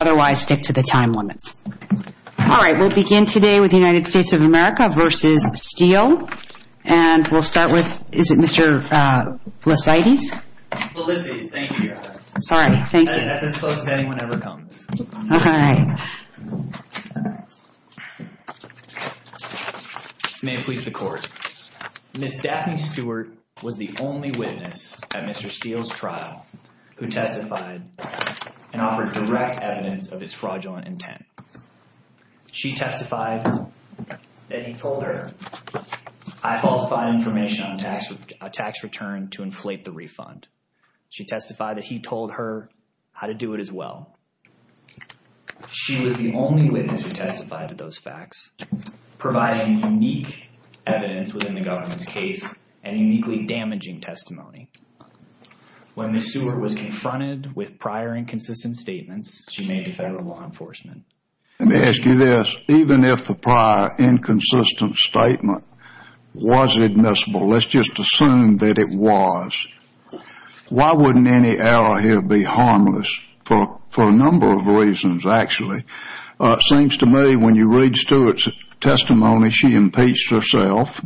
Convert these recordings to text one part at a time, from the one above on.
otherwise stick to the time limits. Alright, we'll begin today with the United States of America v. Steele and we'll start with, is it Mr. Felicides? Felicides, thank you. Sorry, thank you. That's as close as anyone ever comes. May it please the court, Ms. Daphne Stewart was the only witness at Mr. Steele's trial who testified and offered direct evidence of his fraudulent intent. She testified that he told her I falsified information on a tax return to inflate the refund. She testified that he told her how to do it as well. She was the only witness who testified to those facts, providing unique evidence within the government's case and uniquely damaging testimony. When Ms. Stewart was confronted with prior inconsistent statements, she made the federal law enforcement. Let me ask you this, even if the prior inconsistent statement was admissible, let's just assume that it was, why wouldn't any error here be harmless for a number of reasons, actually? It seems to me when you read Stewart's testimony, she impeached herself.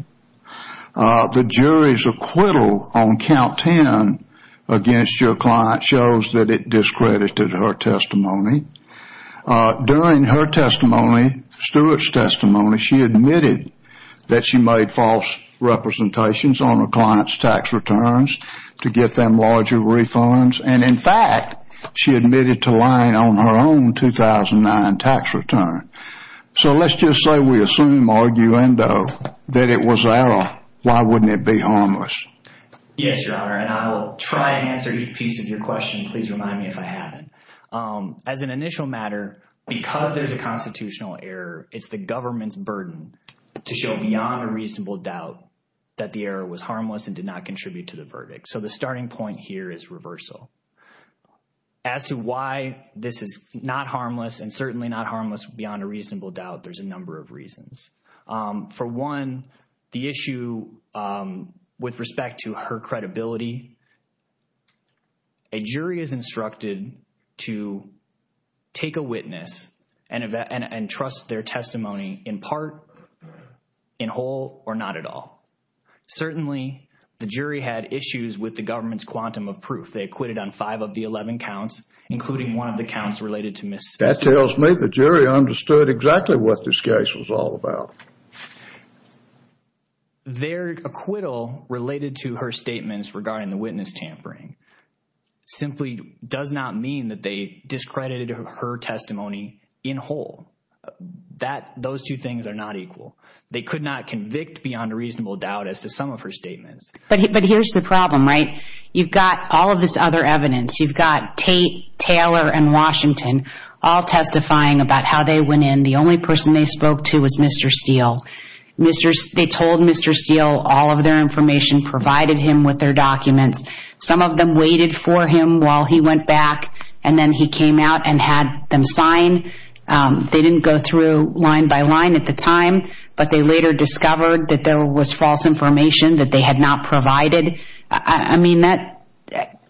The jury's acquittal on count 10 against your client shows that it discredited her testimony. During her testimony, Stewart's testimony, she admitted that she made false representations on her client's tax returns to get them larger refunds, and in fact, she admitted to lying on her own 2009 tax return. So let's just say we assume, arguendo, that it was an error, why wouldn't it be harmless? Yes, Your Honor, and I will try to answer each piece of your question. Please remind me if I haven't. As an initial matter, because there's a constitutional error, it's the government's burden to show beyond a reasonable doubt that the error was harmless and did not contribute to the verdict. So the starting point here is reversal. As to why this is not harmless and certainly not harmless beyond a reasonable doubt, there's a number of reasons. For one, the issue with respect to her credibility. A jury is instructed to take a witness and trust their testimony in part, in whole, or not at all. Certainly, the jury had issues with the government's quantum of proof. They acquitted on five of the 11 counts, including one of the counts related to Ms. Stewart. It tells me the jury understood exactly what this case was all about. Their acquittal related to her statements regarding the witness tampering simply does not mean that they discredited her testimony in whole. Those two things are not equal. They could not convict beyond a reasonable doubt as to some of her statements. But here's the problem, right? You've got all of this other evidence. You've got Tate, Taylor, and Washington all testifying about how they went in. The only person they spoke to was Mr. Steele. They told Mr. Steele all of their information, provided him with their documents. Some of them waited for him while he went back, and then he came out and had them sign. They didn't go through line by line at the time, but they later discovered that there was false information that they had not provided. I mean,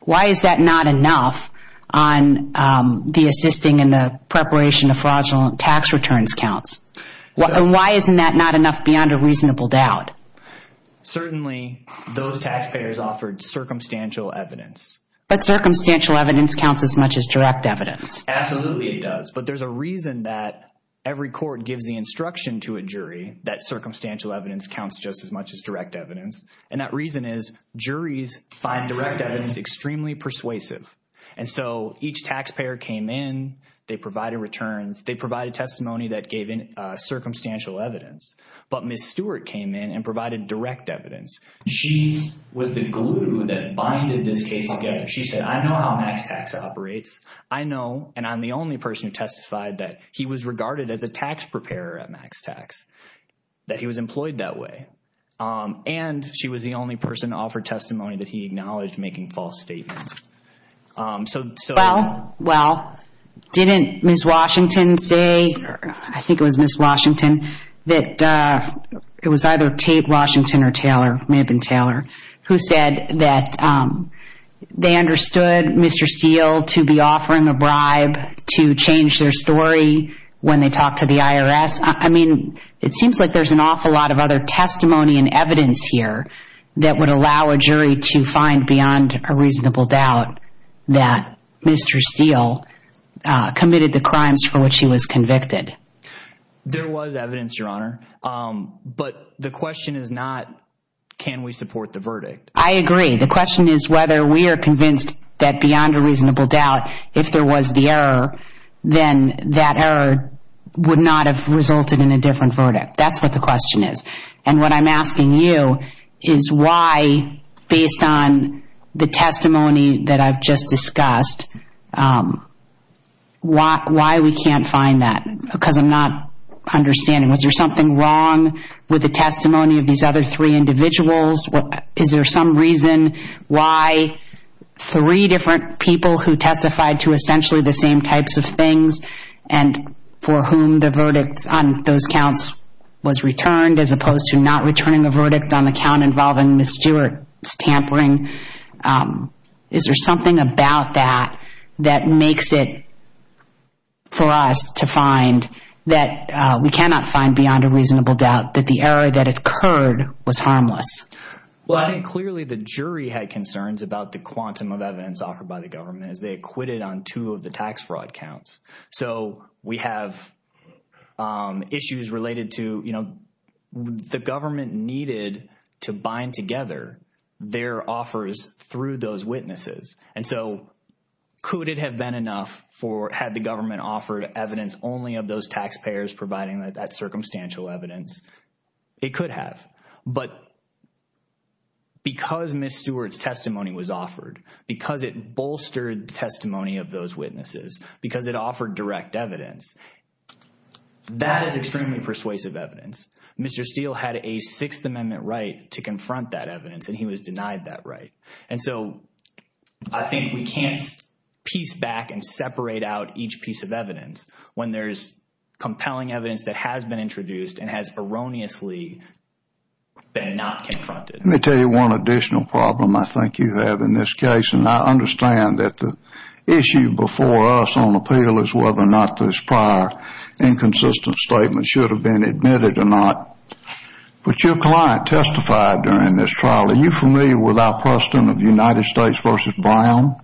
why is that not enough on the assisting and the preparation of fraudulent tax returns counts? And why isn't that not enough beyond a reasonable doubt? Certainly, those taxpayers offered circumstantial evidence. But circumstantial evidence counts as much as direct evidence. Absolutely, it does. But there's a reason that every court gives the instruction to a jury that circumstantial evidence counts just as much as direct evidence. And that reason is juries find direct evidence extremely persuasive. And so each taxpayer came in, they provided returns, they provided testimony that gave circumstantial evidence. But Ms. Stewart came in and provided direct evidence. She was the glue that binded this case together. She said, I know how MaxTax operates. I know, and I'm the only person who testified, that he was regarded as a tax preparer at MaxTax, that he was employed that way. And she was the only person to offer testimony that he acknowledged making false statements. So- Well, well, didn't Ms. Washington say, I think it was Ms. Washington, that it was either Tate Washington or Taylor, may have been Taylor, who said that they understood Mr. Steele to be offering the bribe to change their story when they talked to the IRS. I mean, it seems like there's an awful lot of other testimony and evidence here that would allow a jury to find beyond a reasonable doubt that Mr. Steele committed the crimes for which he was convicted. There was evidence, Your Honor. But the question is not, can we support the verdict? I agree. The question is whether we are convinced that beyond a reasonable doubt, if there was the error, then that error would not have resulted in a different verdict. That's what the question is. And what I'm asking you is why, based on the testimony that I've just discussed, why we can't find that? Because I'm not understanding. Was there something wrong with the testimony of these other three individuals? Is there some reason why three different people who testified to essentially the same types of things and for whom the verdicts on those counts was returned as opposed to not returning a verdict on the count involving Ms. Stewart's tampering? Is there something about that that makes it for us to find that we cannot find beyond a reasonable doubt that the error that occurred was harmless? Well, I think clearly the jury had concerns about the quantum of evidence offered by the government as they acquitted on two of the tax fraud counts. So we have issues related to, you know, the government needed to bind together their offers through those witnesses. And so could it have been enough for, had the government offered evidence only of those taxpayers providing that circumstantial evidence? It could have. But because Ms. Stewart's testimony was offered, because it bolstered the testimony of those witnesses, because it offered direct evidence, that is extremely persuasive evidence. Mr. Steele had a Sixth Amendment right to confront that evidence, and he was denied that right. And so I think we can't piece back and separate out each piece of evidence when there's compelling evidence that has been introduced and has erroneously been not confronted. Let me tell you one additional problem I think you have in this case. And I understand that the issue before us on appeal is whether or not this prior inconsistent statement should have been admitted or not. But your client testified during this trial. Are you familiar with our precedent of United States versus Brown?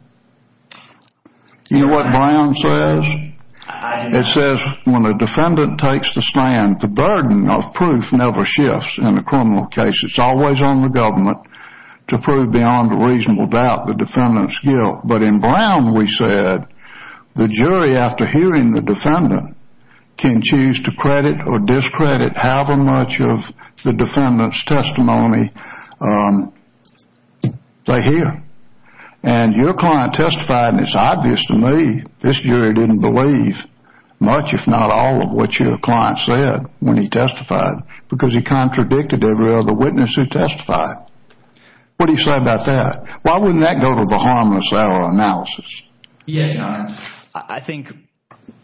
You know what Brown says? It says when a defendant takes the stand, the burden of proof never shifts in a criminal case. It's always on the government to prove beyond a reasonable doubt the defendant's guilt. But in Brown, we said the jury, after hearing the defendant, can choose to credit or discredit however much of the defendant's testimony they hear. And your client testified, and it's obvious to me, this jury didn't believe much, if not all, of what your client said when he testified because he contradicted every other witness who testified. What do you say about that? Why wouldn't that go to the harmless error analysis? Yes, Your Honor. I think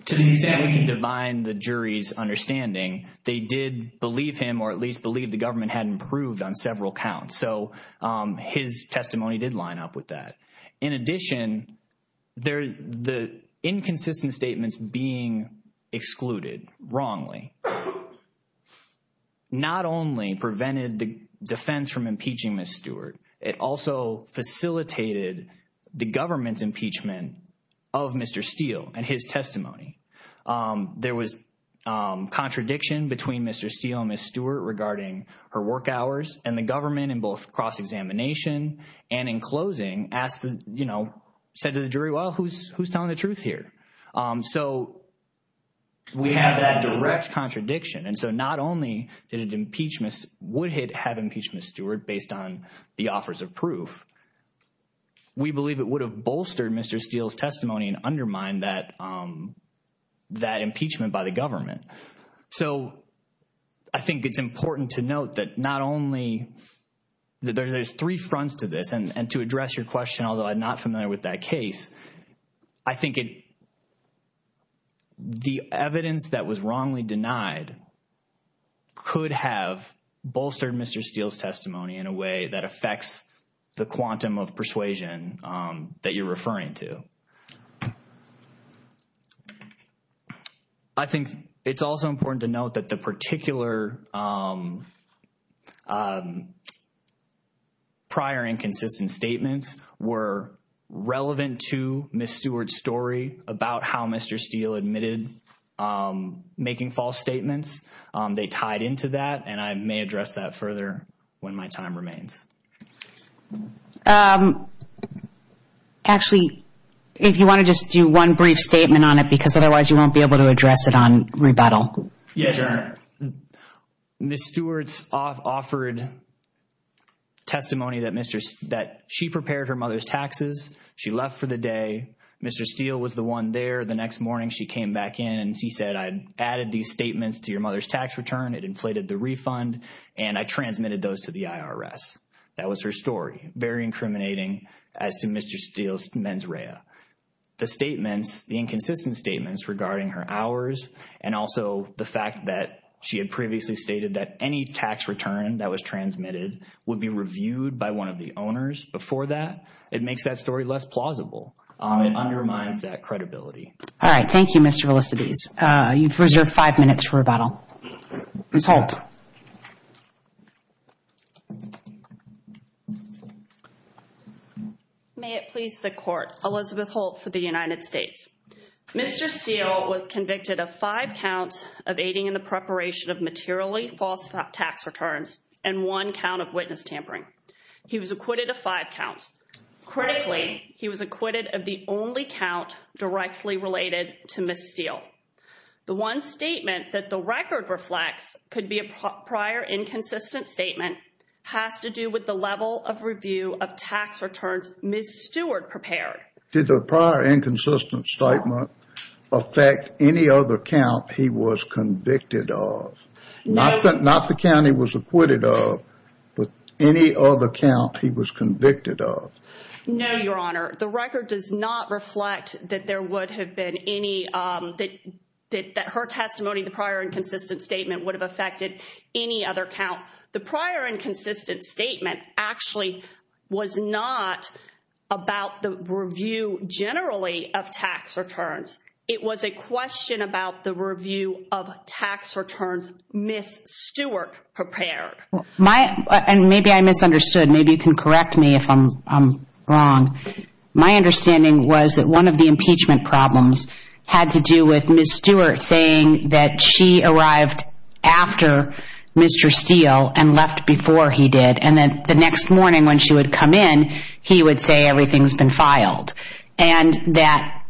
to the extent we can divine the jury's understanding, they did believe him or at least believe the government had improved on several counts. So his testimony did line up with that. In addition, the inconsistent statements being excluded wrongly not only prevented the defense from impeaching Ms. Stewart, it also facilitated the government's impeachment of Mr. Steele and his testimony. There was contradiction between Mr. Steele and Ms. Stewart regarding her work hours and the government in both cross-examination and in closing said to the jury, well, who's telling the truth here? So we have that direct contradiction. And so not only would it have impeached Ms. Stewart based on the offers of proof, we believe it would have bolstered Mr. Steele's testimony and undermined that impeachment by the government. So I think it's important to note that there's three fronts to this. And to address your question, although I'm not familiar with that case, I think the evidence that was wrongly denied could have bolstered Mr. Steele's testimony in a way that affects the quantum of persuasion that you're referring to. I think it's also important to note that the particular prior inconsistent statements were relevant to Ms. Stewart's story about how Mr. Steele admitted making false statements. They tied into that. And I may address that further when my time remains. Actually, if you want to just do one brief statement on it, because otherwise you won't be able to address it on rebuttal. Yes, ma'am. Ms. Stewart's offered testimony that she prepared her mother's taxes. She left for the day. Mr. Steele was the one there. The next morning, she came back in and she said, I added these statements to your mother's tax return. It inflated the refund. And I transmitted those to the IRS. That was her story. Very incriminating as to Mr. Steele's mens rea. The statements, the inconsistent statements regarding her hours and also the fact that she had previously stated that any tax return that was transmitted would be reviewed by one of the owners before that. It makes that story less plausible. It undermines that credibility. All right. Thank you, Mr. Elisibes. You've reserved five minutes for rebuttal. Ms. Holt. May it please the court. Elizabeth Holt for the United States. Mr. Steele was convicted of five counts of aiding in the preparation of materially false tax returns and one count of witness tampering. He was acquitted of five counts. Critically, he was acquitted of the only count directly related to Ms. Steele. The one statement that the record reflects could be a prior inconsistent statement has to do with the level of review of tax returns Ms. Stewart prepared. Did the prior inconsistent statement affect any other count he was convicted of? Not the count he was acquitted of, but any other count he was convicted of? No, Your Honor. The record does not reflect that there would have been any, that her testimony, the prior inconsistent statement would have affected any other count. The prior inconsistent statement actually was not about the review generally of tax returns. It was a question about the review of tax returns Ms. Stewart prepared. And maybe I misunderstood. Maybe you can correct me if I'm wrong. My understanding was that one of the impeachment problems had to do with Ms. Stewart's testimony that she arrived after Mr. Steele and left before he did. And then the next morning when she would come in, he would say everything's been filed. And that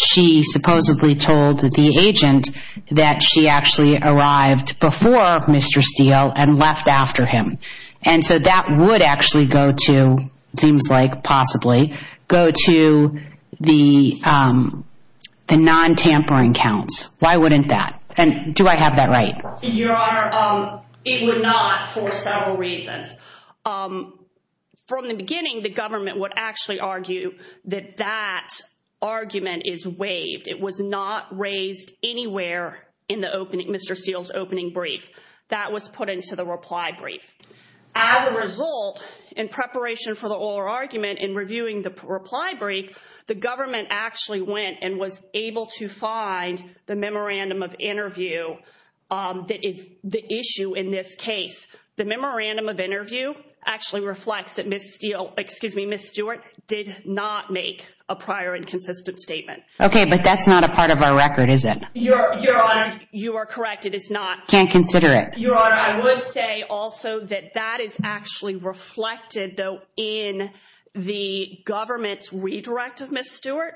she supposedly told the agent that she actually arrived before Mr. Steele and left after him. And so that would actually go to, seems like possibly, go to the non-tampering counts. Why wouldn't that? And do I have that right? Your Honor, it would not for several reasons. From the beginning, the government would actually argue that that argument is waived. It was not raised anywhere in the opening, Mr. Steele's opening brief. That was put into the reply brief. As a result, in preparation for the oral argument, in reviewing the reply brief, the government actually went and was able to find the memorandum of interview that is the issue in this case. The memorandum of interview actually reflects that Ms. Stewart did not make a prior and consistent statement. Okay, but that's not a part of our record, is it? Your Honor, you are correct. It is not. Can't consider it. Your Honor, I would say also that that is actually reflected though in the government's redirect of Ms. Stewart.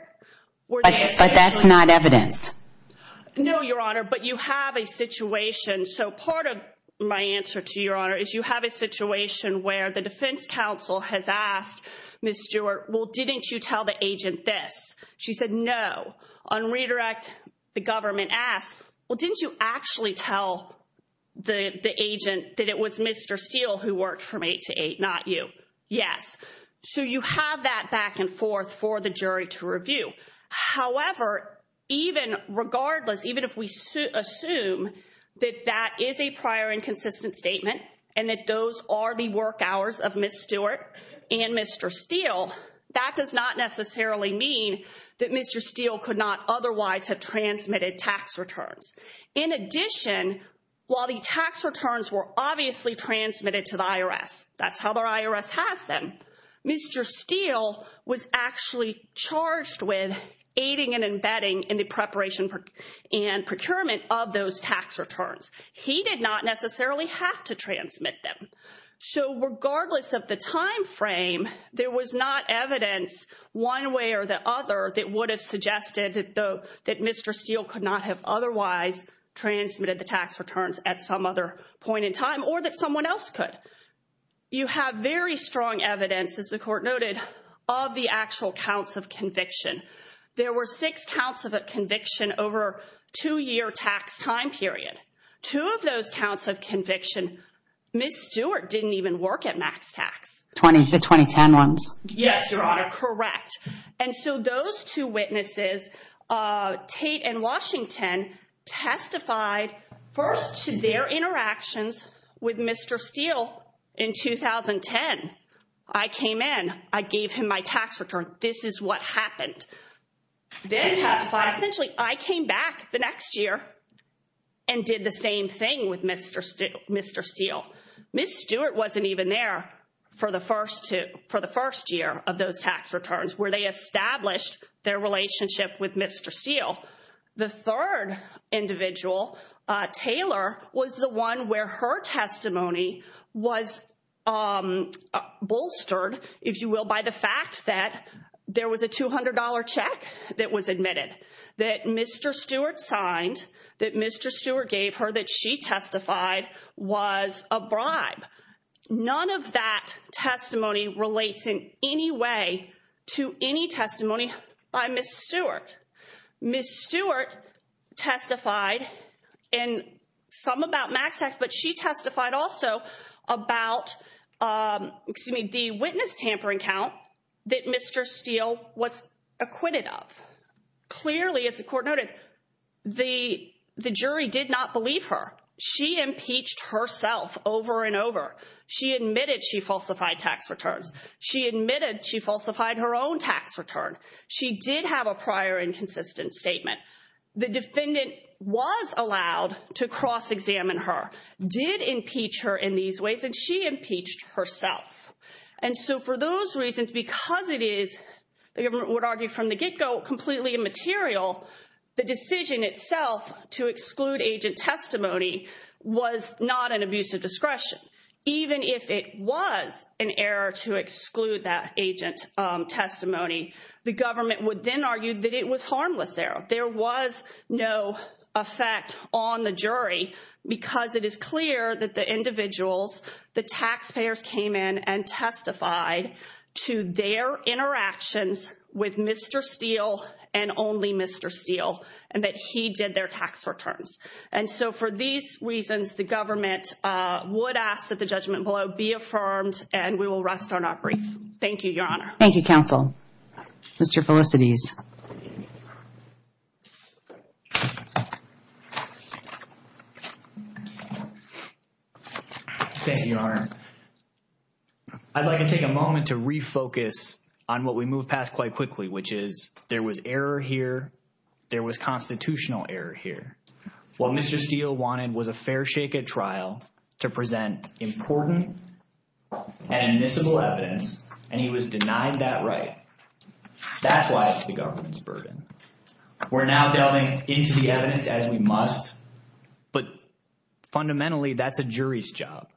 But that's not evidence. No, Your Honor, but you have a situation. So part of my answer to Your Honor is you have a situation where the defense counsel has asked Ms. Stewart, well, didn't you tell the agent this? She said no. On redirect, the government asked, well, didn't you actually tell the agent that it was Mr. Steele who worked from 8 to 8, not you? Yes. So you have that back and forth for the jury to review. However, even regardless, even if we assume that that is a prior and consistent statement and that those are the work hours of Ms. Stewart and Mr. Steele, that does not necessarily mean that Mr. Steele could not otherwise have transmitted tax returns. In addition, while the tax returns were obviously transmitted to the IRS, that's how the IRS has them, Mr. Steele was actually charged with aiding and abetting in the preparation and procurement of those tax returns. He did not necessarily have to transmit them. So regardless of the time frame, there was not evidence one way or the other that would have suggested that Mr. Steele could not have otherwise transmitted the tax returns at some other point in time or that someone else could. You have very strong evidence, as the Court noted, of the actual counts of conviction. There were six counts of conviction over a two-year tax time period. Two of those counts of conviction, Ms. Stewart didn't even work at max tax. Twenty, the 2010 ones. Yes, Your Honor, correct. And so those two witnesses, Tate and Washington, testified first to their interactions with Mr. Steele in 2010. I came in. I gave him my tax return. This is what happened. Then testified. Essentially, I came back the next year and did the same thing with Mr. Steele. Ms. Stewart wasn't even there for the first year of those tax returns where they established their relationship with Mr. Steele. The third individual, Taylor, was the one where her testimony was bolstered, if you will, by the fact that there was a $200 check that was admitted, that Mr. Stewart signed, that Mr. Stewart gave her, that she testified was a bribe. None of that testimony relates in any way to any testimony by Ms. Stewart. Ms. Stewart testified in some about max tax, but she testified also about, excuse me, the witness tampering count that Mr. Steele was acquitted of. Clearly, as the court noted, the jury did not believe her. She impeached herself over and over. She admitted she falsified tax returns. She admitted she falsified her own tax return. She did have a prior inconsistent statement. The defendant was allowed to cross-examine her, did impeach her in these ways, and she impeached herself. For those reasons, because it is, the government would argue from the get-go, completely immaterial, the decision itself to exclude agent testimony was not an abuse of discretion. Even if it was an error to exclude that agent testimony, the government would then argue that it was harmless error. There was no effect on the jury because it is clear that the individuals, the taxpayers came in and testified to their interactions with Mr. Steele and only Mr. Steele, and that he did their tax returns. For these reasons, the government would ask that the judgment below be affirmed, and we will rest on our brief. Thank you, Your Honor. Thank you, counsel. Mr. Felicities. Thank you, Your Honor. I'd like to take a moment to refocus on what we moved past quite quickly, which is there was error here, there was constitutional error here. What Mr. Steele wanted was a fair shake at trial to present important and admissible evidence, and he was denied that right. That's why it's the government's burden. We're now delving into the evidence as we must, but fundamentally, that's a jury's job.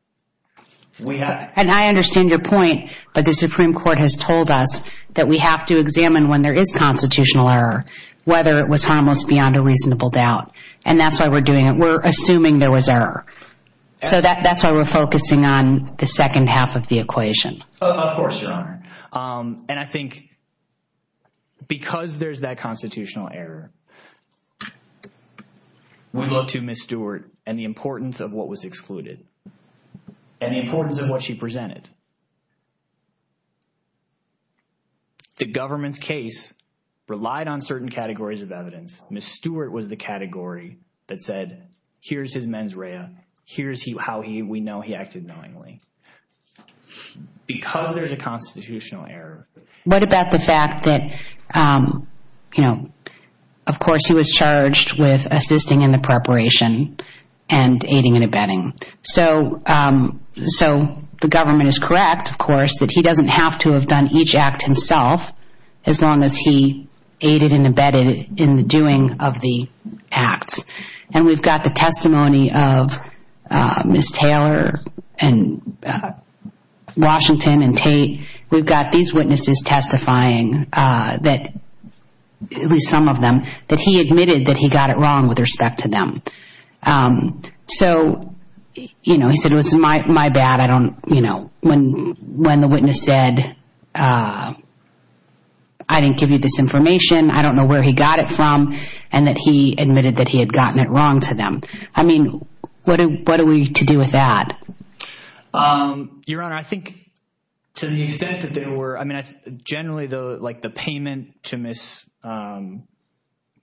We have- And I understand your point, but the Supreme Court has told us that we have to examine when there is constitutional error, whether it was harmless beyond a reasonable doubt, and that's why we're doing it. We're assuming there was error. So that's why we're focusing on the second half of the equation. Of course, Your Honor. And I think because there's that constitutional error, we look to Ms. Stewart and the importance of what was excluded. And the importance of what she presented. The government's case relied on certain categories of evidence. Ms. Stewart was the category that said, here's his mens rea, here's how we know he acted knowingly. Because there's a constitutional error- What about the fact that, you know, of course, he was charged with assisting in the preparation and aiding and abetting. So the government is correct, of course, that he doesn't have to have done each act himself as long as he aided and abetted in the doing of the acts. And we've got the testimony of Ms. Taylor and Washington and Tate. We've got these witnesses testifying, at least some of them, that he admitted that he got it wrong with respect to them. So, you know, he said, it was my bad. I don't, you know, when the witness said, I didn't give you this information. I don't know where he got it from. And that he admitted that he had gotten it wrong to them. I mean, what are we to do with that? Your Honor, I think to the extent that there were, I mean, generally, like the payment to Ms.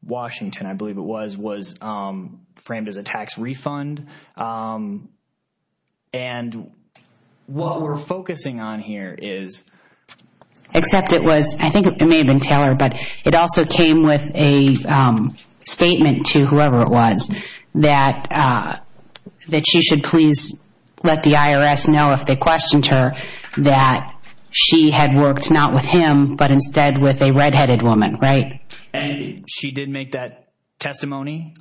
Washington, I believe it was, was framed as a tax refund. And what we're focusing on here is- Except it was, I think it may have been Taylor, but it also came with a statement to whoever it was that she should please let the IRS know if they questioned her that she had worked not with him, but instead with a redheaded woman. Right? And she did make that testimony.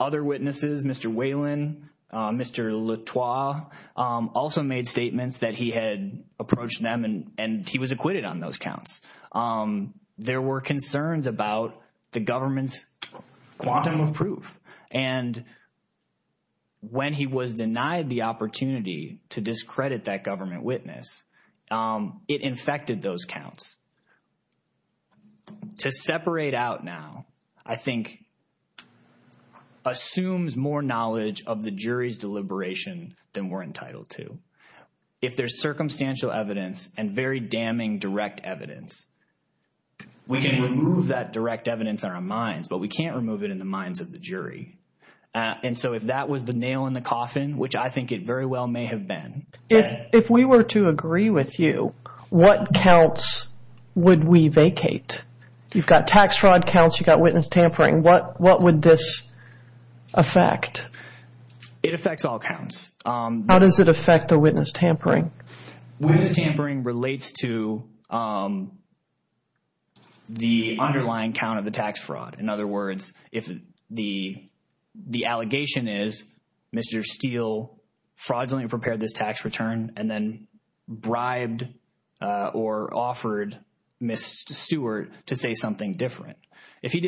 Other witnesses, Mr. Whalen, Mr. Latoie, also made statements that he had approached them and he was acquitted on those counts. There were concerns about the government's quantum of proof. And when he was denied the opportunity to discredit that government witness, it infected those counts. To separate out now, I think, assumes more knowledge of the jury's deliberation than we're entitled to. If there's circumstantial evidence and very damning direct evidence, we can remove that direct evidence in our minds, but we can't remove it in the minds of the jury. And so if that was the nail in the coffin, which I think it very well may have been. If we were to agree with you, what counts would we vacate? You've got tax fraud counts. You've got witness tampering. What would this affect? It affects all counts. How does it affect a witness tampering? Witness tampering relates to the underlying count of the tax fraud. In other words, if the allegation is Mr. Steele fraudulently prepared this tax return and then bribed or offered Ms. Stewart to say something different. If he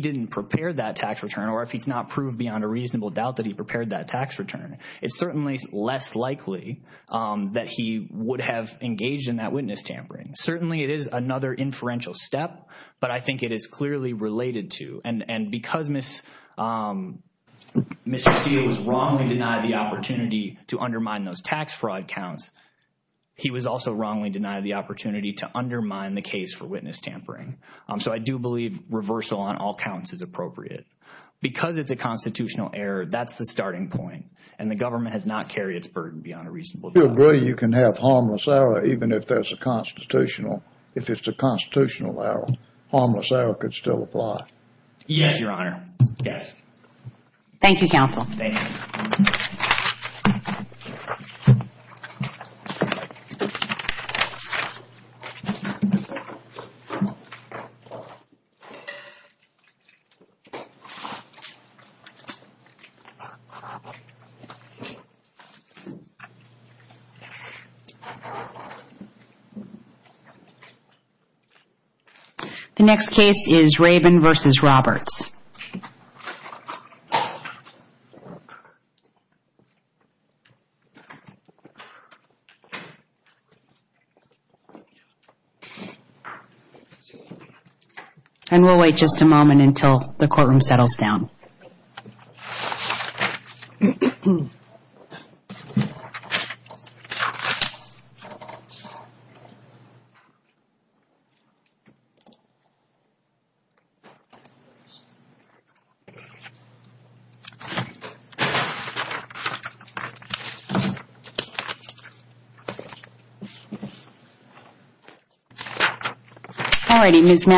didn't prepare that tax return or if he's not proved beyond a reasonable doubt that he prepared that tax return, it's certainly less likely that he would have engaged in that witness tampering. Certainly, it is another inferential step, but I think it is clearly related to. And because Mr. Steele was wrongly denied the opportunity to undermine those tax fraud counts, he was also wrongly denied the opportunity to undermine the case for witness tampering. So I do believe reversal on all counts is appropriate. Because it's a constitutional error, that's the starting point. And the government has not carried its burden beyond a reasonable doubt. Do you agree you can have harmless error even if there's a constitutional? If it's a constitutional error, harmless error could still apply? Yes, Your Honor. Yes. Thank you, counsel. The next case is Rabin v. Roberts. And we'll wait just a moment until the courtroom settles down. Thank you. All righty.